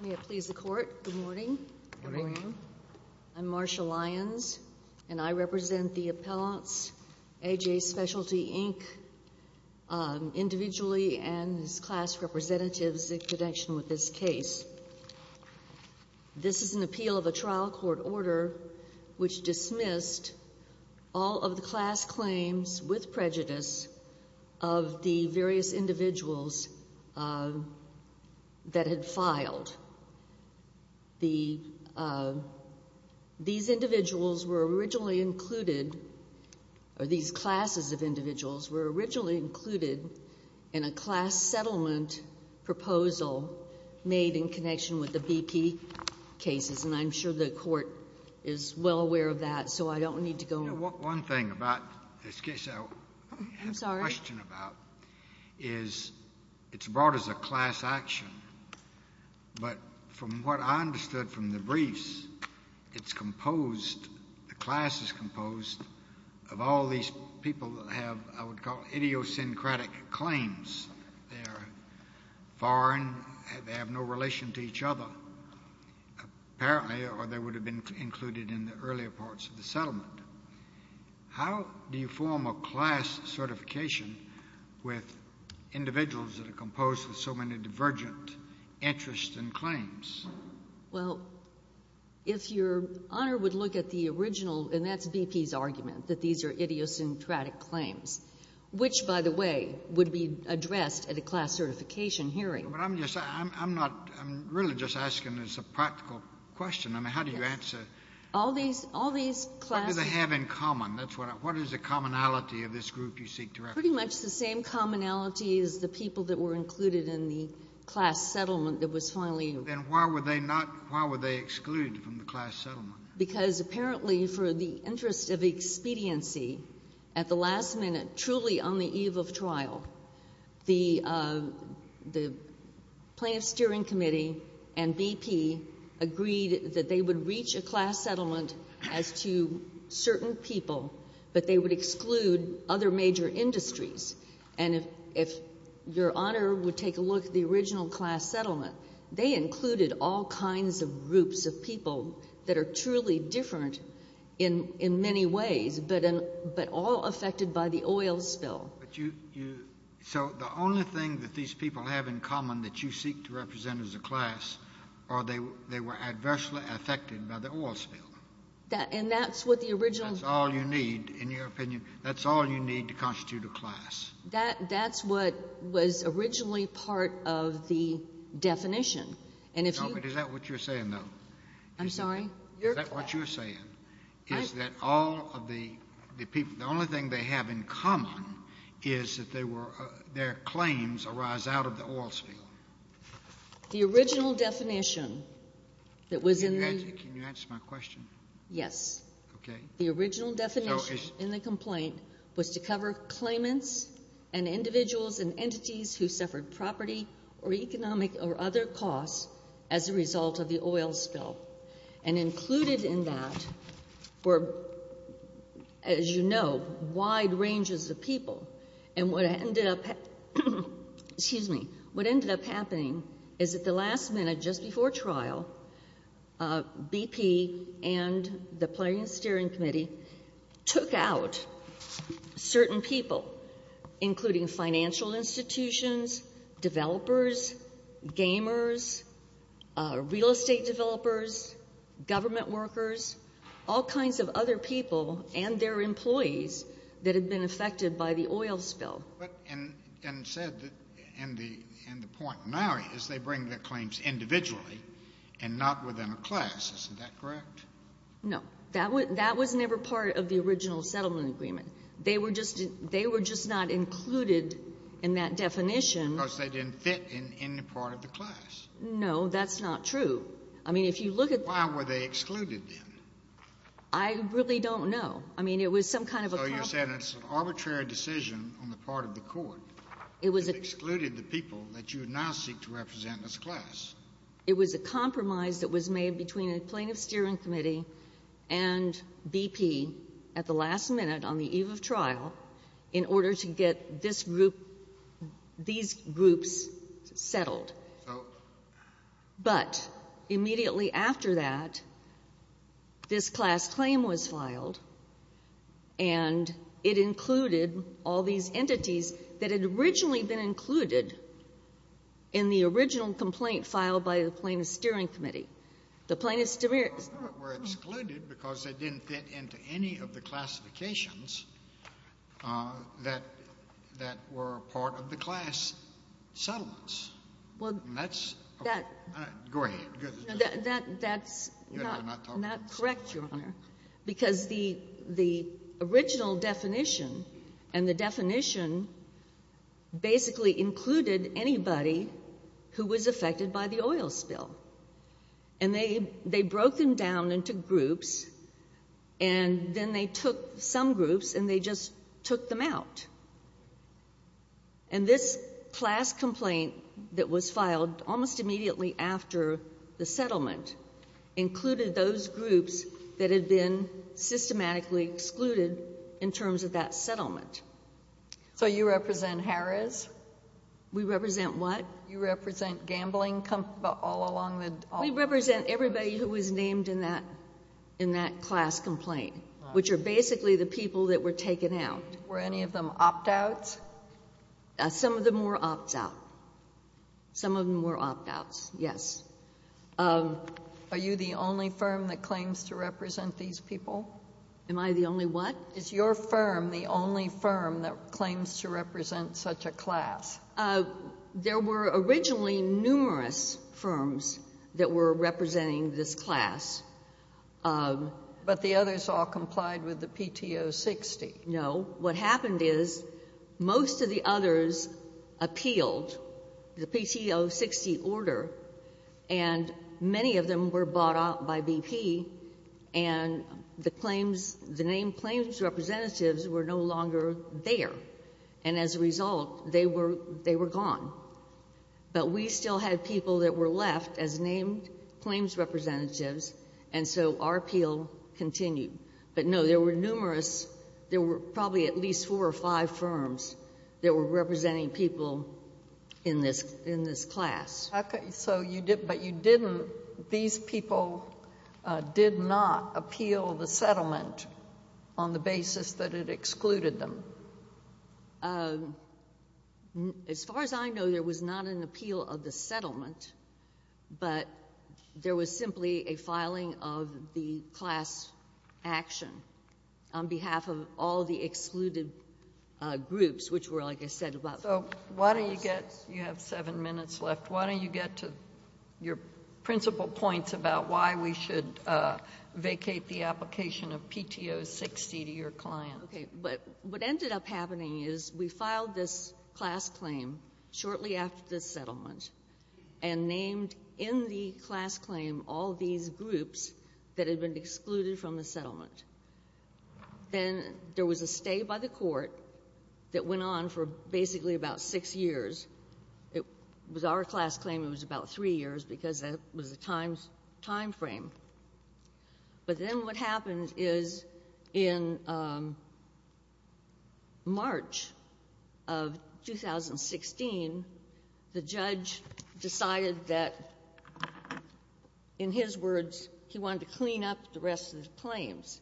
May it please the Court, good morning. Good morning. I'm Marsha Lyons and I represent the appellants, AJ Specialty Inc. individually and his class representatives in connection with this case. This is an appeal of a trial court order which dismissed all of the class claims with prejudice of the various individuals that had filed. These individuals were originally included or these classes of individuals were originally included in a class settlement proposal made in connection with the BP cases and I'm sure the Court is well aware of that so I don't need to go over it. One thing about this case I have a question about is it's brought as a class action, but from what I understood from the briefs, it's composed, the class is composed of all these people that have, I would call, idiosyncratic claims. They're foreign, they have no relation to each other, apparently, or they would have been included in the earlier parts of the settlement. How do you form a class certification with individuals that are composed of so many divergent interests and claims? Well, if Your Honor would look at the original, and that's BP's argument, that these are idiosyncratic claims, which, by the way, would be addressed at a class certification hearing. But I'm just, I'm not, I'm really just asking as a practical question. I mean, how do you answer? All these, all these classes What do they have in common? That's what, what is the commonality of this group you seek to reference? Pretty much the same commonality as the people that were included in the class settlement that was finally Then why were they not, why were they excluded from the class settlement? Because apparently for the interest of expediency, at the last minute, truly on the eve of trial, the plaintiff's steering committee and BP agreed that they would reach a class settlement as to certain people, but they would exclude other major industries. And if Your Honor would take a look at the original class settlement, they included all kinds of groups of people that are truly different in many ways, but all affected by the oil spill. But you, you, so the only thing that these people have in common that you seek to represent as a class are they, they were adversely affected by the oil spill. And that's what the original That's all you need, in your opinion, that's all you need to constitute a class. That, that's what was originally part of the definition. And if you No, but is that what you're saying, though? I'm sorry? Is that what you're saying, is that all of the people, the only thing they have in common is that they were, their claims arise out of the oil spill? The original definition that was in the Can you answer my question? Yes. Okay. The original definition in the complaint was to cover claimants and individuals and entities who suffered property or economic or other costs as a result of the oil spill. And included in that were, as you know, wide ranges of people. And what ended up, excuse me, what ended up happening is at the last minute, just before trial, BP and the Planning and Steering Committee took out certain people, including financial institutions, developers, gamers, real estate developers, government workers, all kinds of other people and their employees that had been affected by the oil spill. But, and, and said that, and the, and the point now is they bring their claims individually and not within a class. Isn't that correct? No. That was never part of the original settlement agreement. They were just, they were just not included in that definition. Because they didn't fit in, in the part of the class. No. That's not true. I mean, if you look at the Why were they excluded, then? I really don't know. I mean, it was some kind of a compromise So you're saying it's an arbitrary decision on the part of the Court that excluded the people that you now seek to represent in this class. It was a compromise that was made between the Plaintiff's Steering Committee and BP at the last minute on the eve of trial in order to get this group, these groups settled. So But immediately after that, this class claim was filed, and it included all these entities that had originally been included in the original complaint filed by the Plaintiff's Steering Committee. The Plaintiff's Steering Committee were excluded because they didn't fit into any of the classifications that, that were part of the class settlements. Well, that's That Go ahead. That, that's not correct, Your Honor, because the, the original definition, and the definition basically included anybody who was affected by the oil spill. And they, they broke them down into groups, and then they took some groups and they just took them out. And this class complaint that was filed almost immediately after the settlement included those groups that had been systematically excluded in terms of that settlement. So you represent Harris? We represent what? You represent gambling companies all along the, all the We represent everybody who was named in that, in that class complaint, which are basically the people that were taken out. Were any of them opt-outs? Some of them were opt-out. Some of them were opt-outs, yes. Are you the only firm that claims to represent these people? Am I the only what? Is your firm the only firm that claims to represent such a class? There were originally numerous firms that were representing this class. But the others all complied with the PTO 60. No. What happened is most of the others appealed the PTO 60 order, and many of them were bought out by BP, and the claims, the named claims representatives were no longer there. And as a result, they were, they were gone. But we still had people that were left as named claims representatives, and so our appeal continued. But, no, there were numerous, there were probably at least four or five firms that were representing people in this, in this class. Okay. So you did, but you didn't, these people did not appeal the settlement on the basis that it excluded them? As far as I know, there was not an appeal of the settlement, but there was simply a filing of the class action on behalf of all the excluded groups, which were, like I said, about the class. So why don't you get, you have seven minutes left, why don't you get to your principal points about why we should vacate the application of PTO 60 to your client? Okay. But what ended up happening is we filed this class claim shortly after the settlement, and named in the class claim all these groups that had been excluded from the settlement. Then there was a stay by the court that went on for basically about six years. It was our class claim, it was about three years, because that was the time frame. But then what happened is in March of 2016, the judge decided that, in his words, he wanted to clean up the rest of the claims.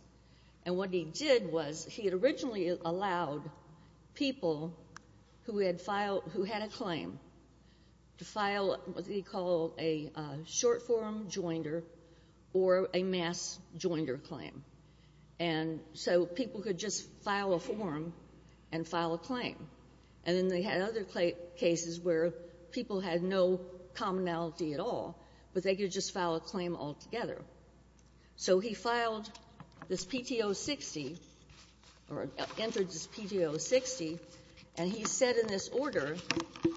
And what he did was he had originally allowed people who had filed – who had a claim to file what he called a short-form joinder or a mass joinder claim. And so people could just file a form and file a claim. And then they had other cases where people had no commonality at all, but they could just file a claim altogether. So he filed this PTO 60, or entered this PTO 60, and he said in this order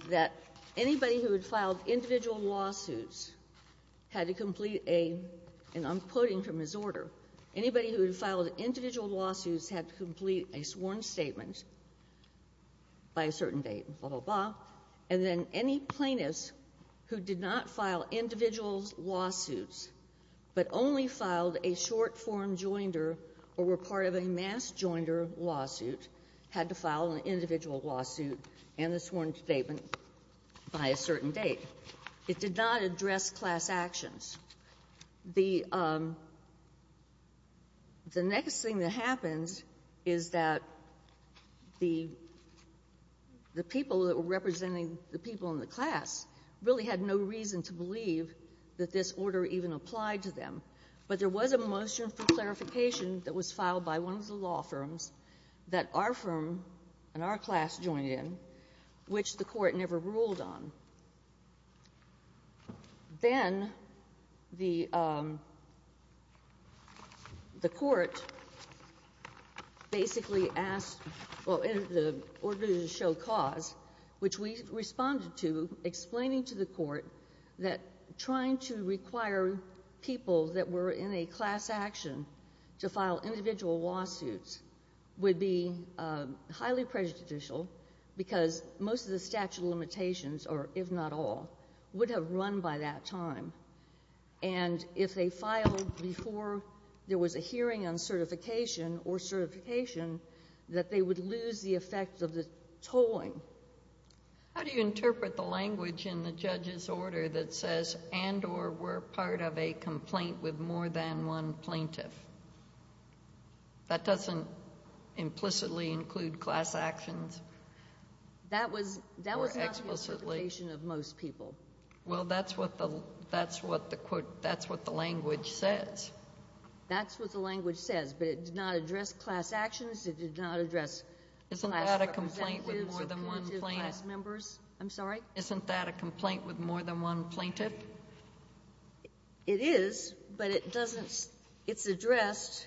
that anybody who had filed individual lawsuits had to complete a – and I'm quoting from his order – anybody who had filed individual lawsuits had to complete a sworn statement by a certain date, blah, blah, blah. And then any plaintiffs who did not file individual lawsuits, but only filed a short-form joinder or were part of a mass joinder lawsuit, had to file an individual lawsuit and a sworn statement by a certain date. It did not address class actions. The next thing that happens is that the people that were representing the people in the class really had no reason to believe that this order even applied to them. But there was a motion for clarification that was filed by one of the law firms that our firm and our class joined in, which the Court never ruled on. Then the Court basically asked – well, in the order to show cause, which we responded to explaining to the Court that trying to require people that were in a class action to file individual lawsuits would be highly prejudicial because most of the statute of limitations, or if not all, would have run by that time. And if they filed before there was a hearing on certification or certification, that they would lose the effect of the tolling. How do you interpret the language in the judge's order that says and or were part of a complaint with more than one plaintiff? That doesn't implicitly include class actions. That was not the interpretation of most people. Well, that's what the – that's what the quote – that's what the language says. That's what the language says, but it did not address class actions. It did not address class representatives or plaintiff class members. I'm sorry? Isn't that a complaint with more than one plaintiff? It is, but it doesn't – it's addressed.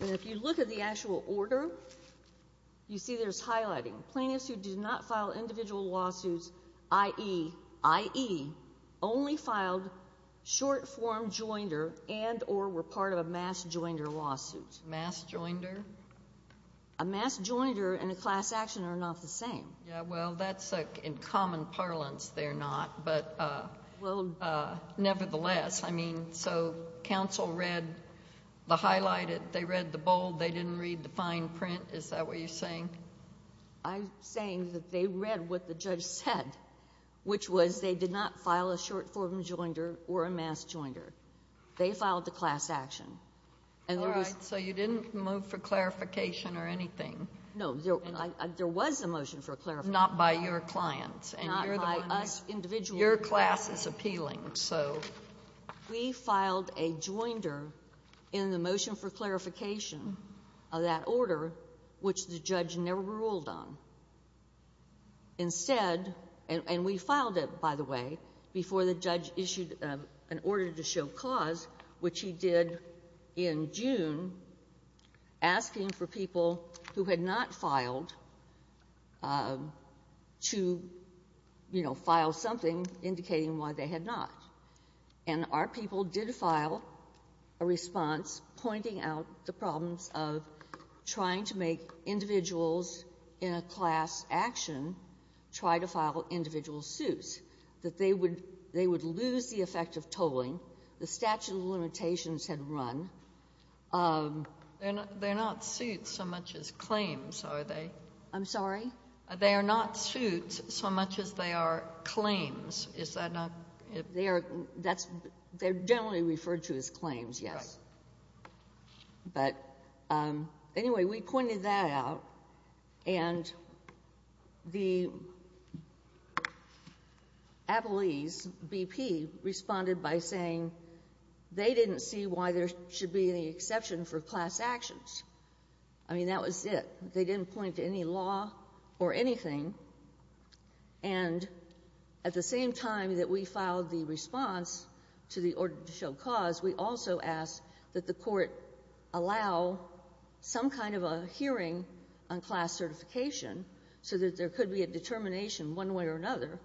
And if you look at the actual order, you see there's highlighting. Plaintiffs who did not file individual lawsuits, i.e., i.e., only filed short-form joinder and or were part of a mass joinder lawsuit. Mass joinder? A mass joinder and a class action are not the same. Yeah, well, that's in common parlance they're not, but nevertheless. I mean, so counsel read the highlighted. They read the bold. They didn't read the fine print. Is that what you're saying? I'm saying that they read what the judge said, which was they did not file a short-form joinder or a mass joinder. They filed the class action. All right. So you didn't move for clarification or anything? No. There was a motion for clarification. Not by your clients. Not by us individually. Your class is appealing. So we filed a joinder in the motion for clarification of that order, which the judge never ruled on. Instead, and we filed it, by the way, before the judge issued an order to show cause, which he did in June, asking for people who had not filed to, you know, file something indicating why they had not. And our people did file a response pointing out the problems of trying to make individuals in a class action try to file individual suits, that they would lose the effect of tolling. The statute of limitations had run. They're not suits so much as claims, are they? I'm sorry? They are not suits so much as they are claims. Is that not? They are. That's they're generally referred to as claims. Yes. But anyway, we pointed that out. And the appellees BP responded by saying they didn't see why there should be any exception for class actions. I mean, that was it. They didn't point to any law or anything. And at the same time that we filed the response to the order to show cause, we also asked that the Court allow some kind of a hearing on class certification so that there could be a determination one way or another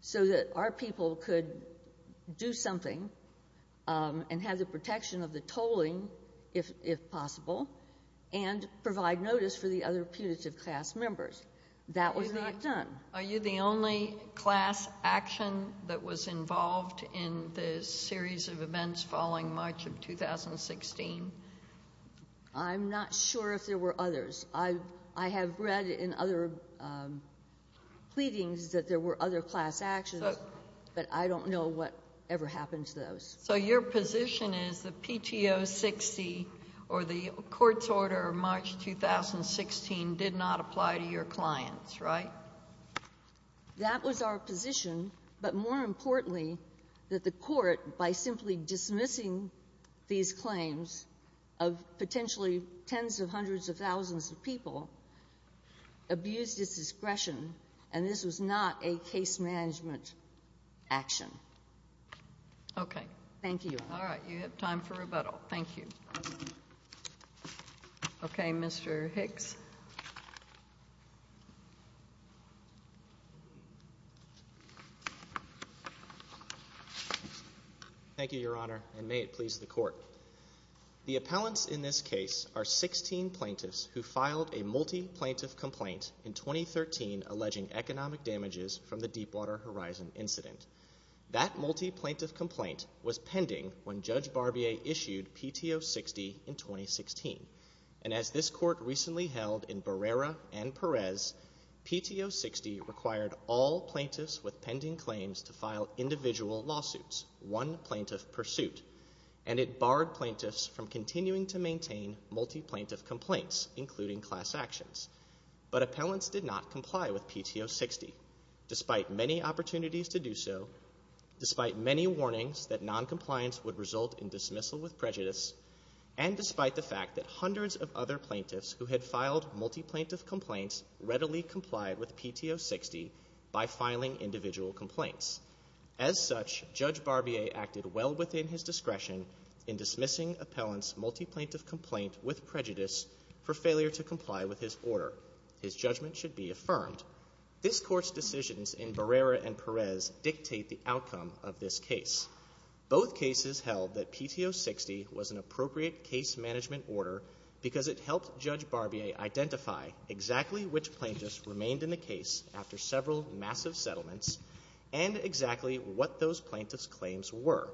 so that our people could do something and have the protection of the tolling, if possible, and provide notice for the other putative class members. That was not done. Are you the only class action that was involved in the series of events following March of 2016? I'm not sure if there were others. I have read in other pleadings that there were other class actions, but I don't know what ever happened to those. So your position is the PTO 60 or the court's order of March 2016 did not apply to your clients, right? That was our position. But more importantly, that the Court, by simply dismissing these claims of potentially tens of hundreds of thousands of people, abused its discretion, and this was not a case management action. Okay. Thank you. All right. You have time for rebuttal. Thank you. Okay. Mr. Hicks. Thank you, Your Honor, and may it please the Court. The appellants in this case are 16 plaintiffs who filed a multi-plaintiff complaint in 2013 alleging economic damages from the Deepwater Horizon incident. That multi-plaintiff complaint was pending when Judge Barbier issued PTO 60 in 2016, and as this Court recently held in Barrera and Perez, PTO 60 required all plaintiffs with pending claims to file individual lawsuits, one plaintiff per suit, and it barred plaintiffs from continuing to maintain multi-plaintiff complaints, including class actions. But appellants did not comply with PTO 60. Despite many opportunities to do so, despite many warnings that noncompliance would result in dismissal with prejudice, and despite the fact that hundreds of other plaintiffs who had filed multi-plaintiff complaints readily complied with PTO 60 by filing individual complaints. As such, Judge Barbier acted well within his discretion in dismissing appellants' multi-plaintiff complaint with prejudice for failure to comply with his order. His judgment should be affirmed. This Court's decisions in Barrera and Perez dictate the outcome of this case. Both cases held that PTO 60 was an appropriate case management order because it helped Judge Barbier identify exactly which plaintiffs remained in the case after several massive settlements and exactly what those plaintiffs' claims were,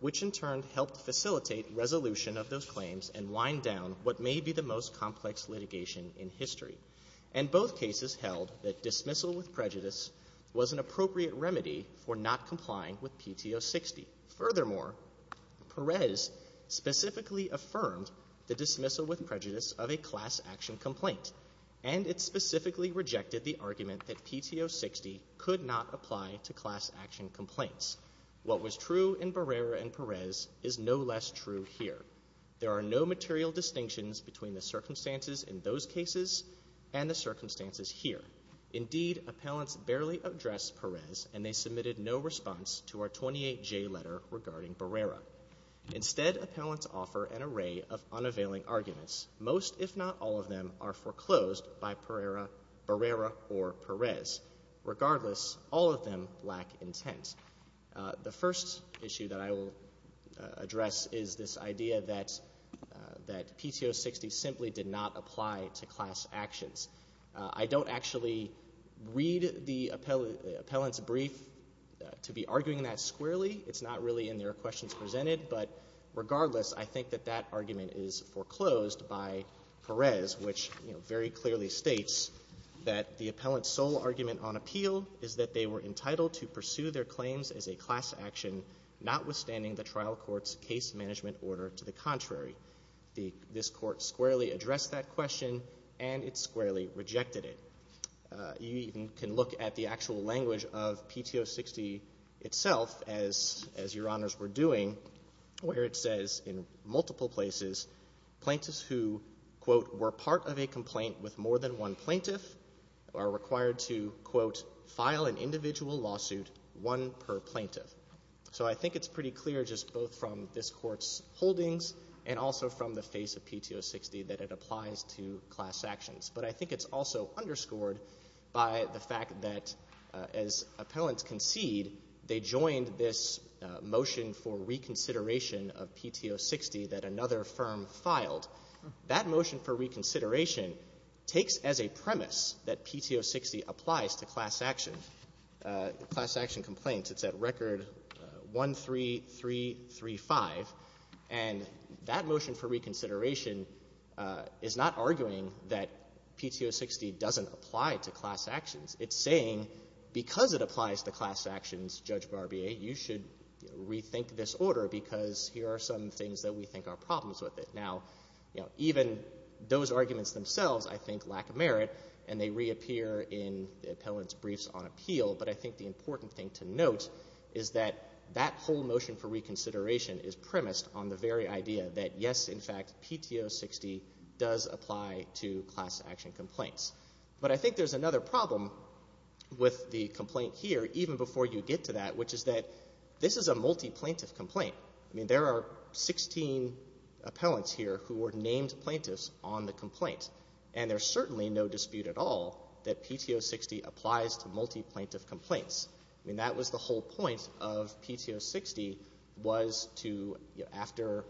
which in turn helped facilitate resolution of those claims and wind down what may be the most complex litigation in history. And both cases held that dismissal with prejudice was an appropriate remedy for not complying with PTO 60. Furthermore, Perez specifically affirmed the dismissal with prejudice of a class action complaint, and it specifically rejected the argument that PTO 60 could not apply to class action complaints. What was true in Barrera and Perez is no less true here. There are no material distinctions between the circumstances in those cases and the circumstances here. Indeed, appellants barely addressed Perez, and they submitted no response to our 28J letter regarding Barrera. Instead, appellants offer an array of unavailing arguments. Most, if not all, of them are foreclosed by Barrera or Perez. Regardless, all of them lack intent. The first issue that I will address is this idea that PTO 60 simply did not apply to class actions. I don't actually read the appellant's brief to be arguing that squarely. It's not really in their questions presented. But regardless, I think that that argument is foreclosed by Perez, which very clearly states that the appellant's sole argument on appeal is that they were entitled to pursue their claims as a class action, notwithstanding the trial court's case management order to the contrary. This court squarely addressed that question, and it squarely rejected it. You even can look at the actual language of PTO 60 itself, as Your Honors were doing, where it says in multiple places, plaintiffs who, quote, were part of a complaint with one per plaintiff. So I think it's pretty clear just both from this Court's holdings and also from the face of PTO 60 that it applies to class actions. But I think it's also underscored by the fact that, as appellants concede, they joined this motion for reconsideration of PTO 60 that another firm filed. That motion for reconsideration takes as a premise that PTO 60 applies to class action, class action complaints. It's at Record 13335. And that motion for reconsideration is not arguing that PTO 60 doesn't apply to class actions. It's saying because it applies to class actions, Judge Barbier, you should rethink this order because here are some things that we think are problems with it. Now, you know, even those arguments themselves, I think, lack merit, and they reappear in the appellant's briefs on appeal. But I think the important thing to note is that that whole motion for reconsideration is premised on the very idea that, yes, in fact, PTO 60 does apply to class action complaints. But I think there's another problem with the complaint here, even before you get to that, which is that this is a multi-plaintiff complaint. I mean, there are 16 appellants here who were named plaintiffs on the complaint. And there's certainly no dispute at all that PTO 60 applies to multi-plaintiff complaints. I mean, that was the whole point of PTO 60 was to, you know, after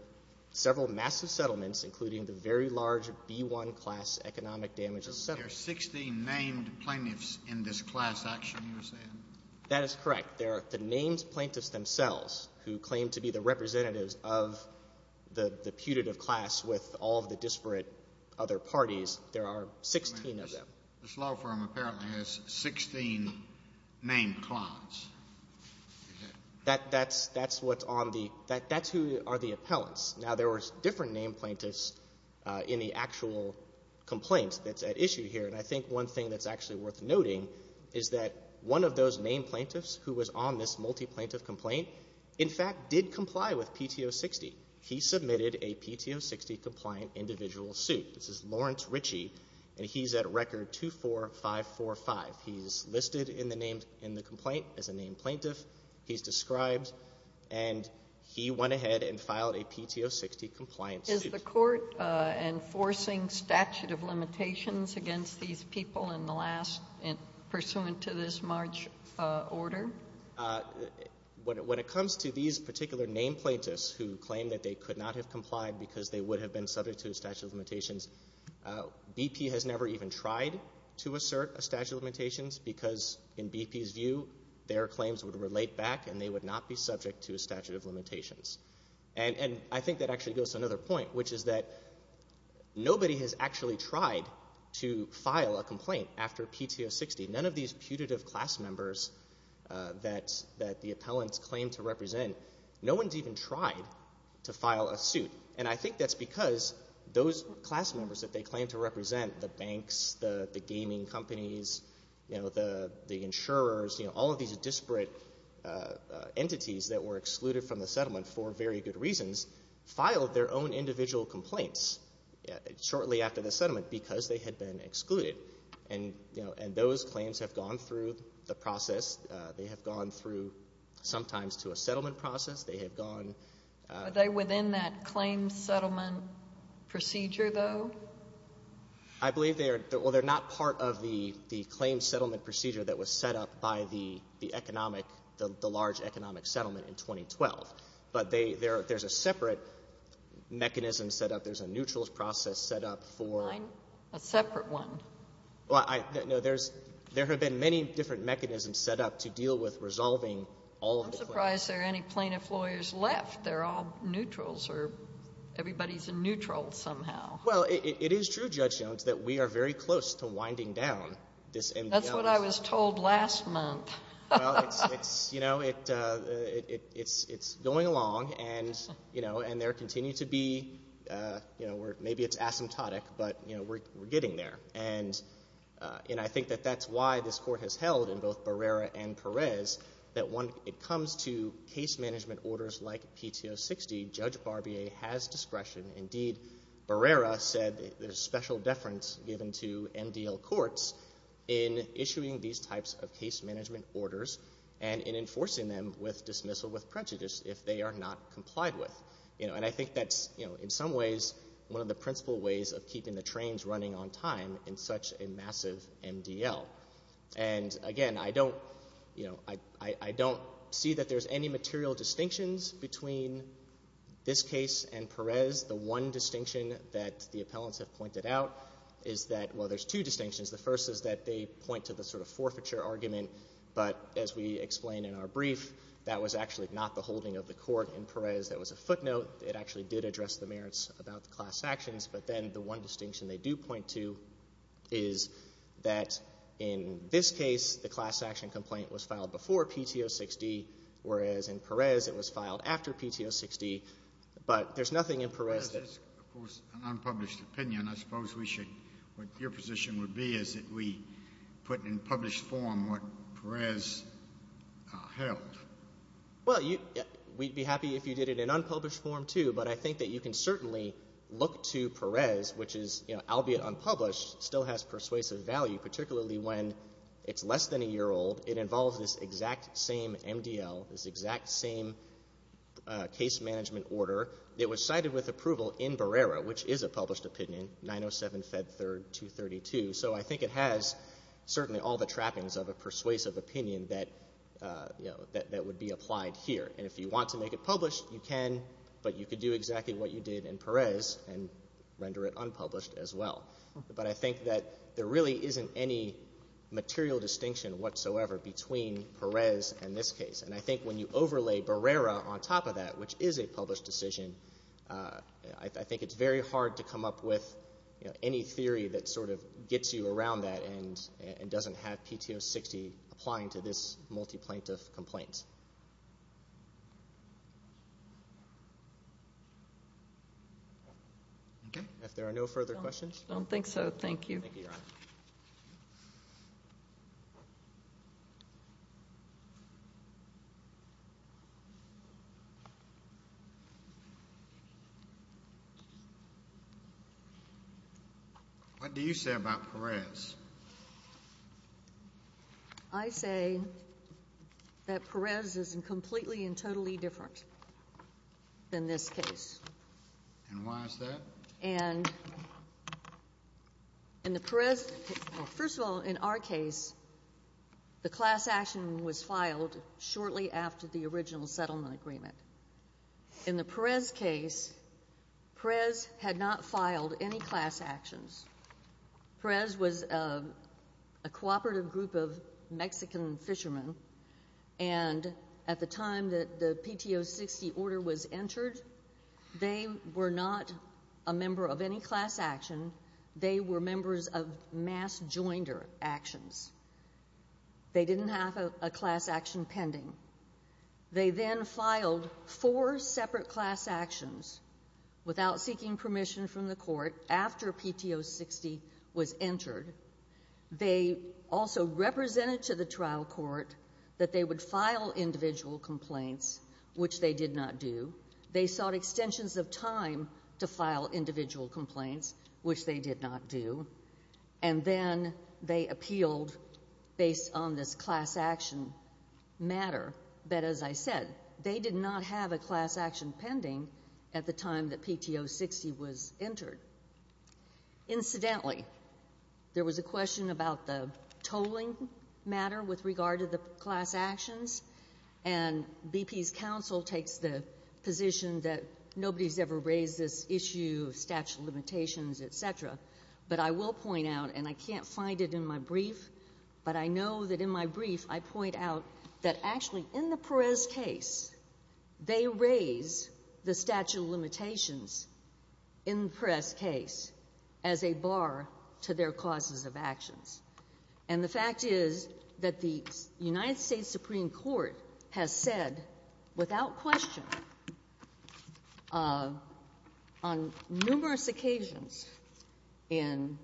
several massive settlements, including the very large B-1 class economic damages settlement. There are 16 named plaintiffs in this class action, you're saying? That is correct. There are the named plaintiffs themselves who claim to be the representatives of the putative class with all of the disparate other parties. There are 16 of them. This law firm apparently has 16 named clients. That's what's on the — that's who are the appellants. Now, there were different named plaintiffs in the actual complaint that's at issue here. And I think one thing that's actually worth noting is that one of those named plaintiffs who was on this multi-plaintiff complaint, in fact, did comply with PTO 60. He submitted a PTO 60-compliant individual suit. This is Lawrence Ritchie, and he's at record 24545. He's listed in the name — in the complaint as a named plaintiff. He's described. And he went ahead and filed a PTO 60-compliant suit. Is the Court enforcing statute of limitations against these people in the last — pursuant to this March order? When it comes to these particular named plaintiffs who claim that they could not have complied because they would have been subject to a statute of limitations, BP has never even tried to assert a statute of limitations because, in BP's view, their claims would relate back and they would not be subject to a statute of limitations. And I think that actually goes to another point, which is that nobody has actually tried to file a complaint after PTO 60. None of these putative class members that the appellants claim to represent, no one has even tried to file a suit. And I think that's because those class members that they claim to represent, the banks, the gaming companies, you know, the insurers, you know, all of these disparate entities that were excluded from the settlement for very good reasons, filed their own individual complaints shortly after the settlement because they had been excluded. And, you know, and those claims have gone through the process. They have gone through sometimes to a settlement process. They have gone — Are they within that claim settlement procedure, though? I believe they are — well, they're not part of the claim settlement procedure that was set up by the economic — the large economic settlement in 2012. But they — there's a separate mechanism set up. There's a neutral process set up for — A separate one. Well, I — no, there's — there have been many different mechanisms set up to deal with resolving all of the claims. I'm surprised there are any plaintiff lawyers left. They're all neutrals, or everybody's a neutral somehow. Well, it is true, Judge Jones, that we are very close to winding down this — That's what I was told last month. Well, it's — you know, it's going along, and, you know, and there continue to be — you know, we're getting there. And, you know, I think that that's why this Court has held in both Barrera and Perez that when it comes to case management orders like PTO 60, Judge Barbier has discretion. Indeed, Barrera said there's special deference given to MDL courts in issuing these types of case management orders and in enforcing them with dismissal with prejudice if they are not complied with. You know, and I think that's, you know, in some ways one of the principal ways of keeping the trains running on time in such a massive MDL. And, again, I don't — you know, I don't see that there's any material distinctions between this case and Perez. The one distinction that the appellants have pointed out is that — well, there's two distinctions. The first is that they point to the sort of forfeiture argument, but as we explain in our brief, that was actually not the holding of the court in Perez. That was a footnote. It actually did address the merits about the class actions. But then the one distinction they do point to is that in this case, the class action complaint was filed before PTO 60, whereas in Perez it was filed after PTO 60. But there's nothing in Perez that — That is, of course, an unpublished opinion. I suppose we should — what your position would be is that we put in published form what Perez held. Well, you — we'd be happy if you did it in unpublished form, too. But I think that you can certainly look to Perez, which is — you know, albeit unpublished, still has persuasive value, particularly when it's less than a year old. It involves this exact same MDL, this exact same case management order that was cited with approval in Barrera, which is a published opinion, 907 Fed 3rd 232. So I think it has certainly all the trappings of a persuasive opinion that, you know, that would be applied here. And if you want to make it published, you can, but you could do exactly what you did in Perez and render it unpublished as well. But I think that there really isn't any material distinction whatsoever between Perez and this case. And I think when you overlay Barrera on top of that, which is a published decision, I think it's very hard to come up with, you know, any theory that sort of gets you around that and doesn't have PTO 60 applying to this multi-plaintiff complaint. Okay. If there are no further questions — I don't think so. Thank you. Thank you, Your Honor. What do you say about Perez? I say that Perez is completely and totally different than this case. And why is that? And in the Perez — well, first of all, in our case, the class action was filed shortly after the original settlement agreement. In the Perez case, Perez had not filed any class actions. Perez was a cooperative group of Mexican fishermen, and at the time that the PTO 60 order was entered, they were not a member of any class action. They were members of mass jointer actions. They didn't have a class action pending. They then filed four separate class actions without seeking permission from the court after PTO 60 was entered. They also represented to the trial court that they would file individual complaints, which they did not do. They sought extensions of time to file individual complaints, which they did not do. And then they appealed based on this class action matter that, as I said, they did not have a class action pending at the time that PTO 60 was entered. Incidentally, there was a question about the tolling matter with regard to the class actions, and BP's counsel takes the position that nobody's ever raised this issue of statute of limitations, et cetera. But I will point out, and I can't find it in my brief, but I know that in my brief I point out that actually in the Perez case, they raise the statute of limitations in the Perez case as a bar to their causes of actions. And the fact is that the United States Supreme Court has said without question on numerous occasions in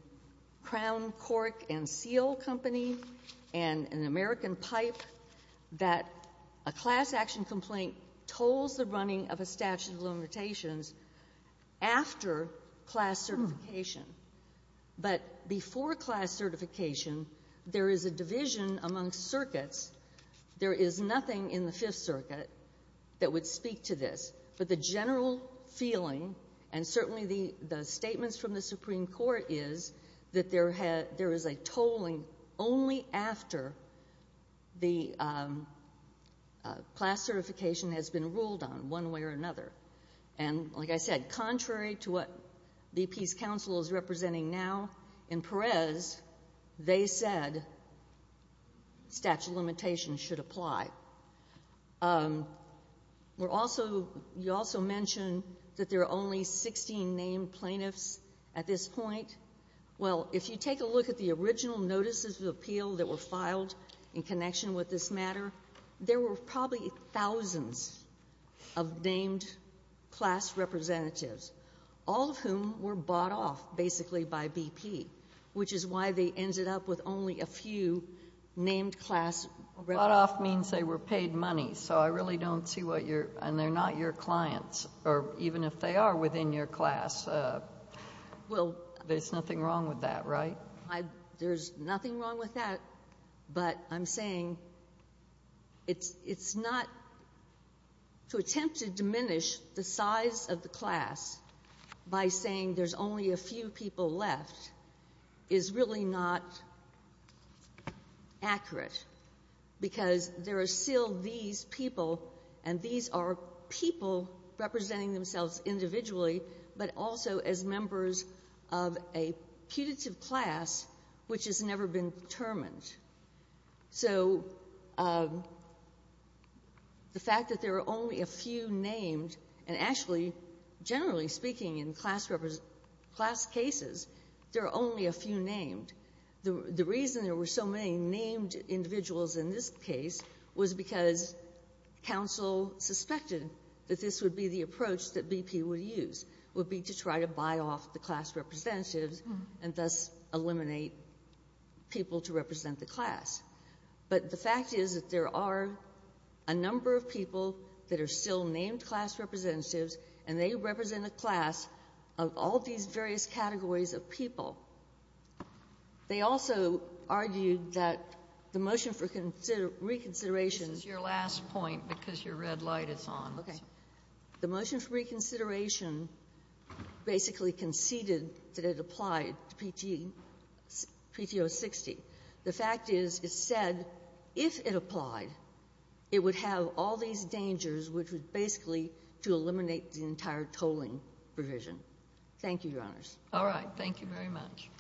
Crown, Cork, and Seal Company and in American Pipe that a class action complaint tolls the running of a statute of limitations after class certification. But before class certification, there is a division amongst circuits. There is nothing in the Fifth Circuit that would speak to this. But the general feeling and certainly the statements from the Supreme Court is that there is a tolling only after the class certification has been ruled on one way or another. And like I said, contrary to what BP's counsel is representing now in Perez, they said statute of limitations should apply. We're also you also mentioned that there are only 16 named plaintiffs at this point. Well, if you take a look at the original notices of appeal that were filed in connection with this matter, there were probably thousands of named class representatives, all of whom were bought off basically by BP, which is why they ended up with only a few named class representatives. And bought off means they were paid money. So I really don't see what your — and they're not your clients, or even if they are within your class. Well, there's nothing wrong with that, right? There's nothing wrong with that. But I'm saying it's not — to attempt to diminish the size of the class by saying there's only a few people left is really not accurate. Because there are still these people, and these are people representing themselves individually, but also as members of a putative class which has never been determined. So the fact that there are only a few named, and actually, generally speaking, in class cases, there are only a few named, the reason there were so many named individuals in this case was because counsel suspected that this would be the approach that BP would use, would be to try to buy off the class representatives and thus eliminate people to represent the class. But the fact is that there are a number of people that are still named class representatives, and they represent a class of all these various categories of people. They also argued that the motion for reconsideration — This is your last point because your red light is on. Okay. The motion for reconsideration basically conceded that it applied to PTO 60. The fact is it said if it applied, it would have all these dangers, which was basically Thank you, Your Honors. All right. Thank you very much.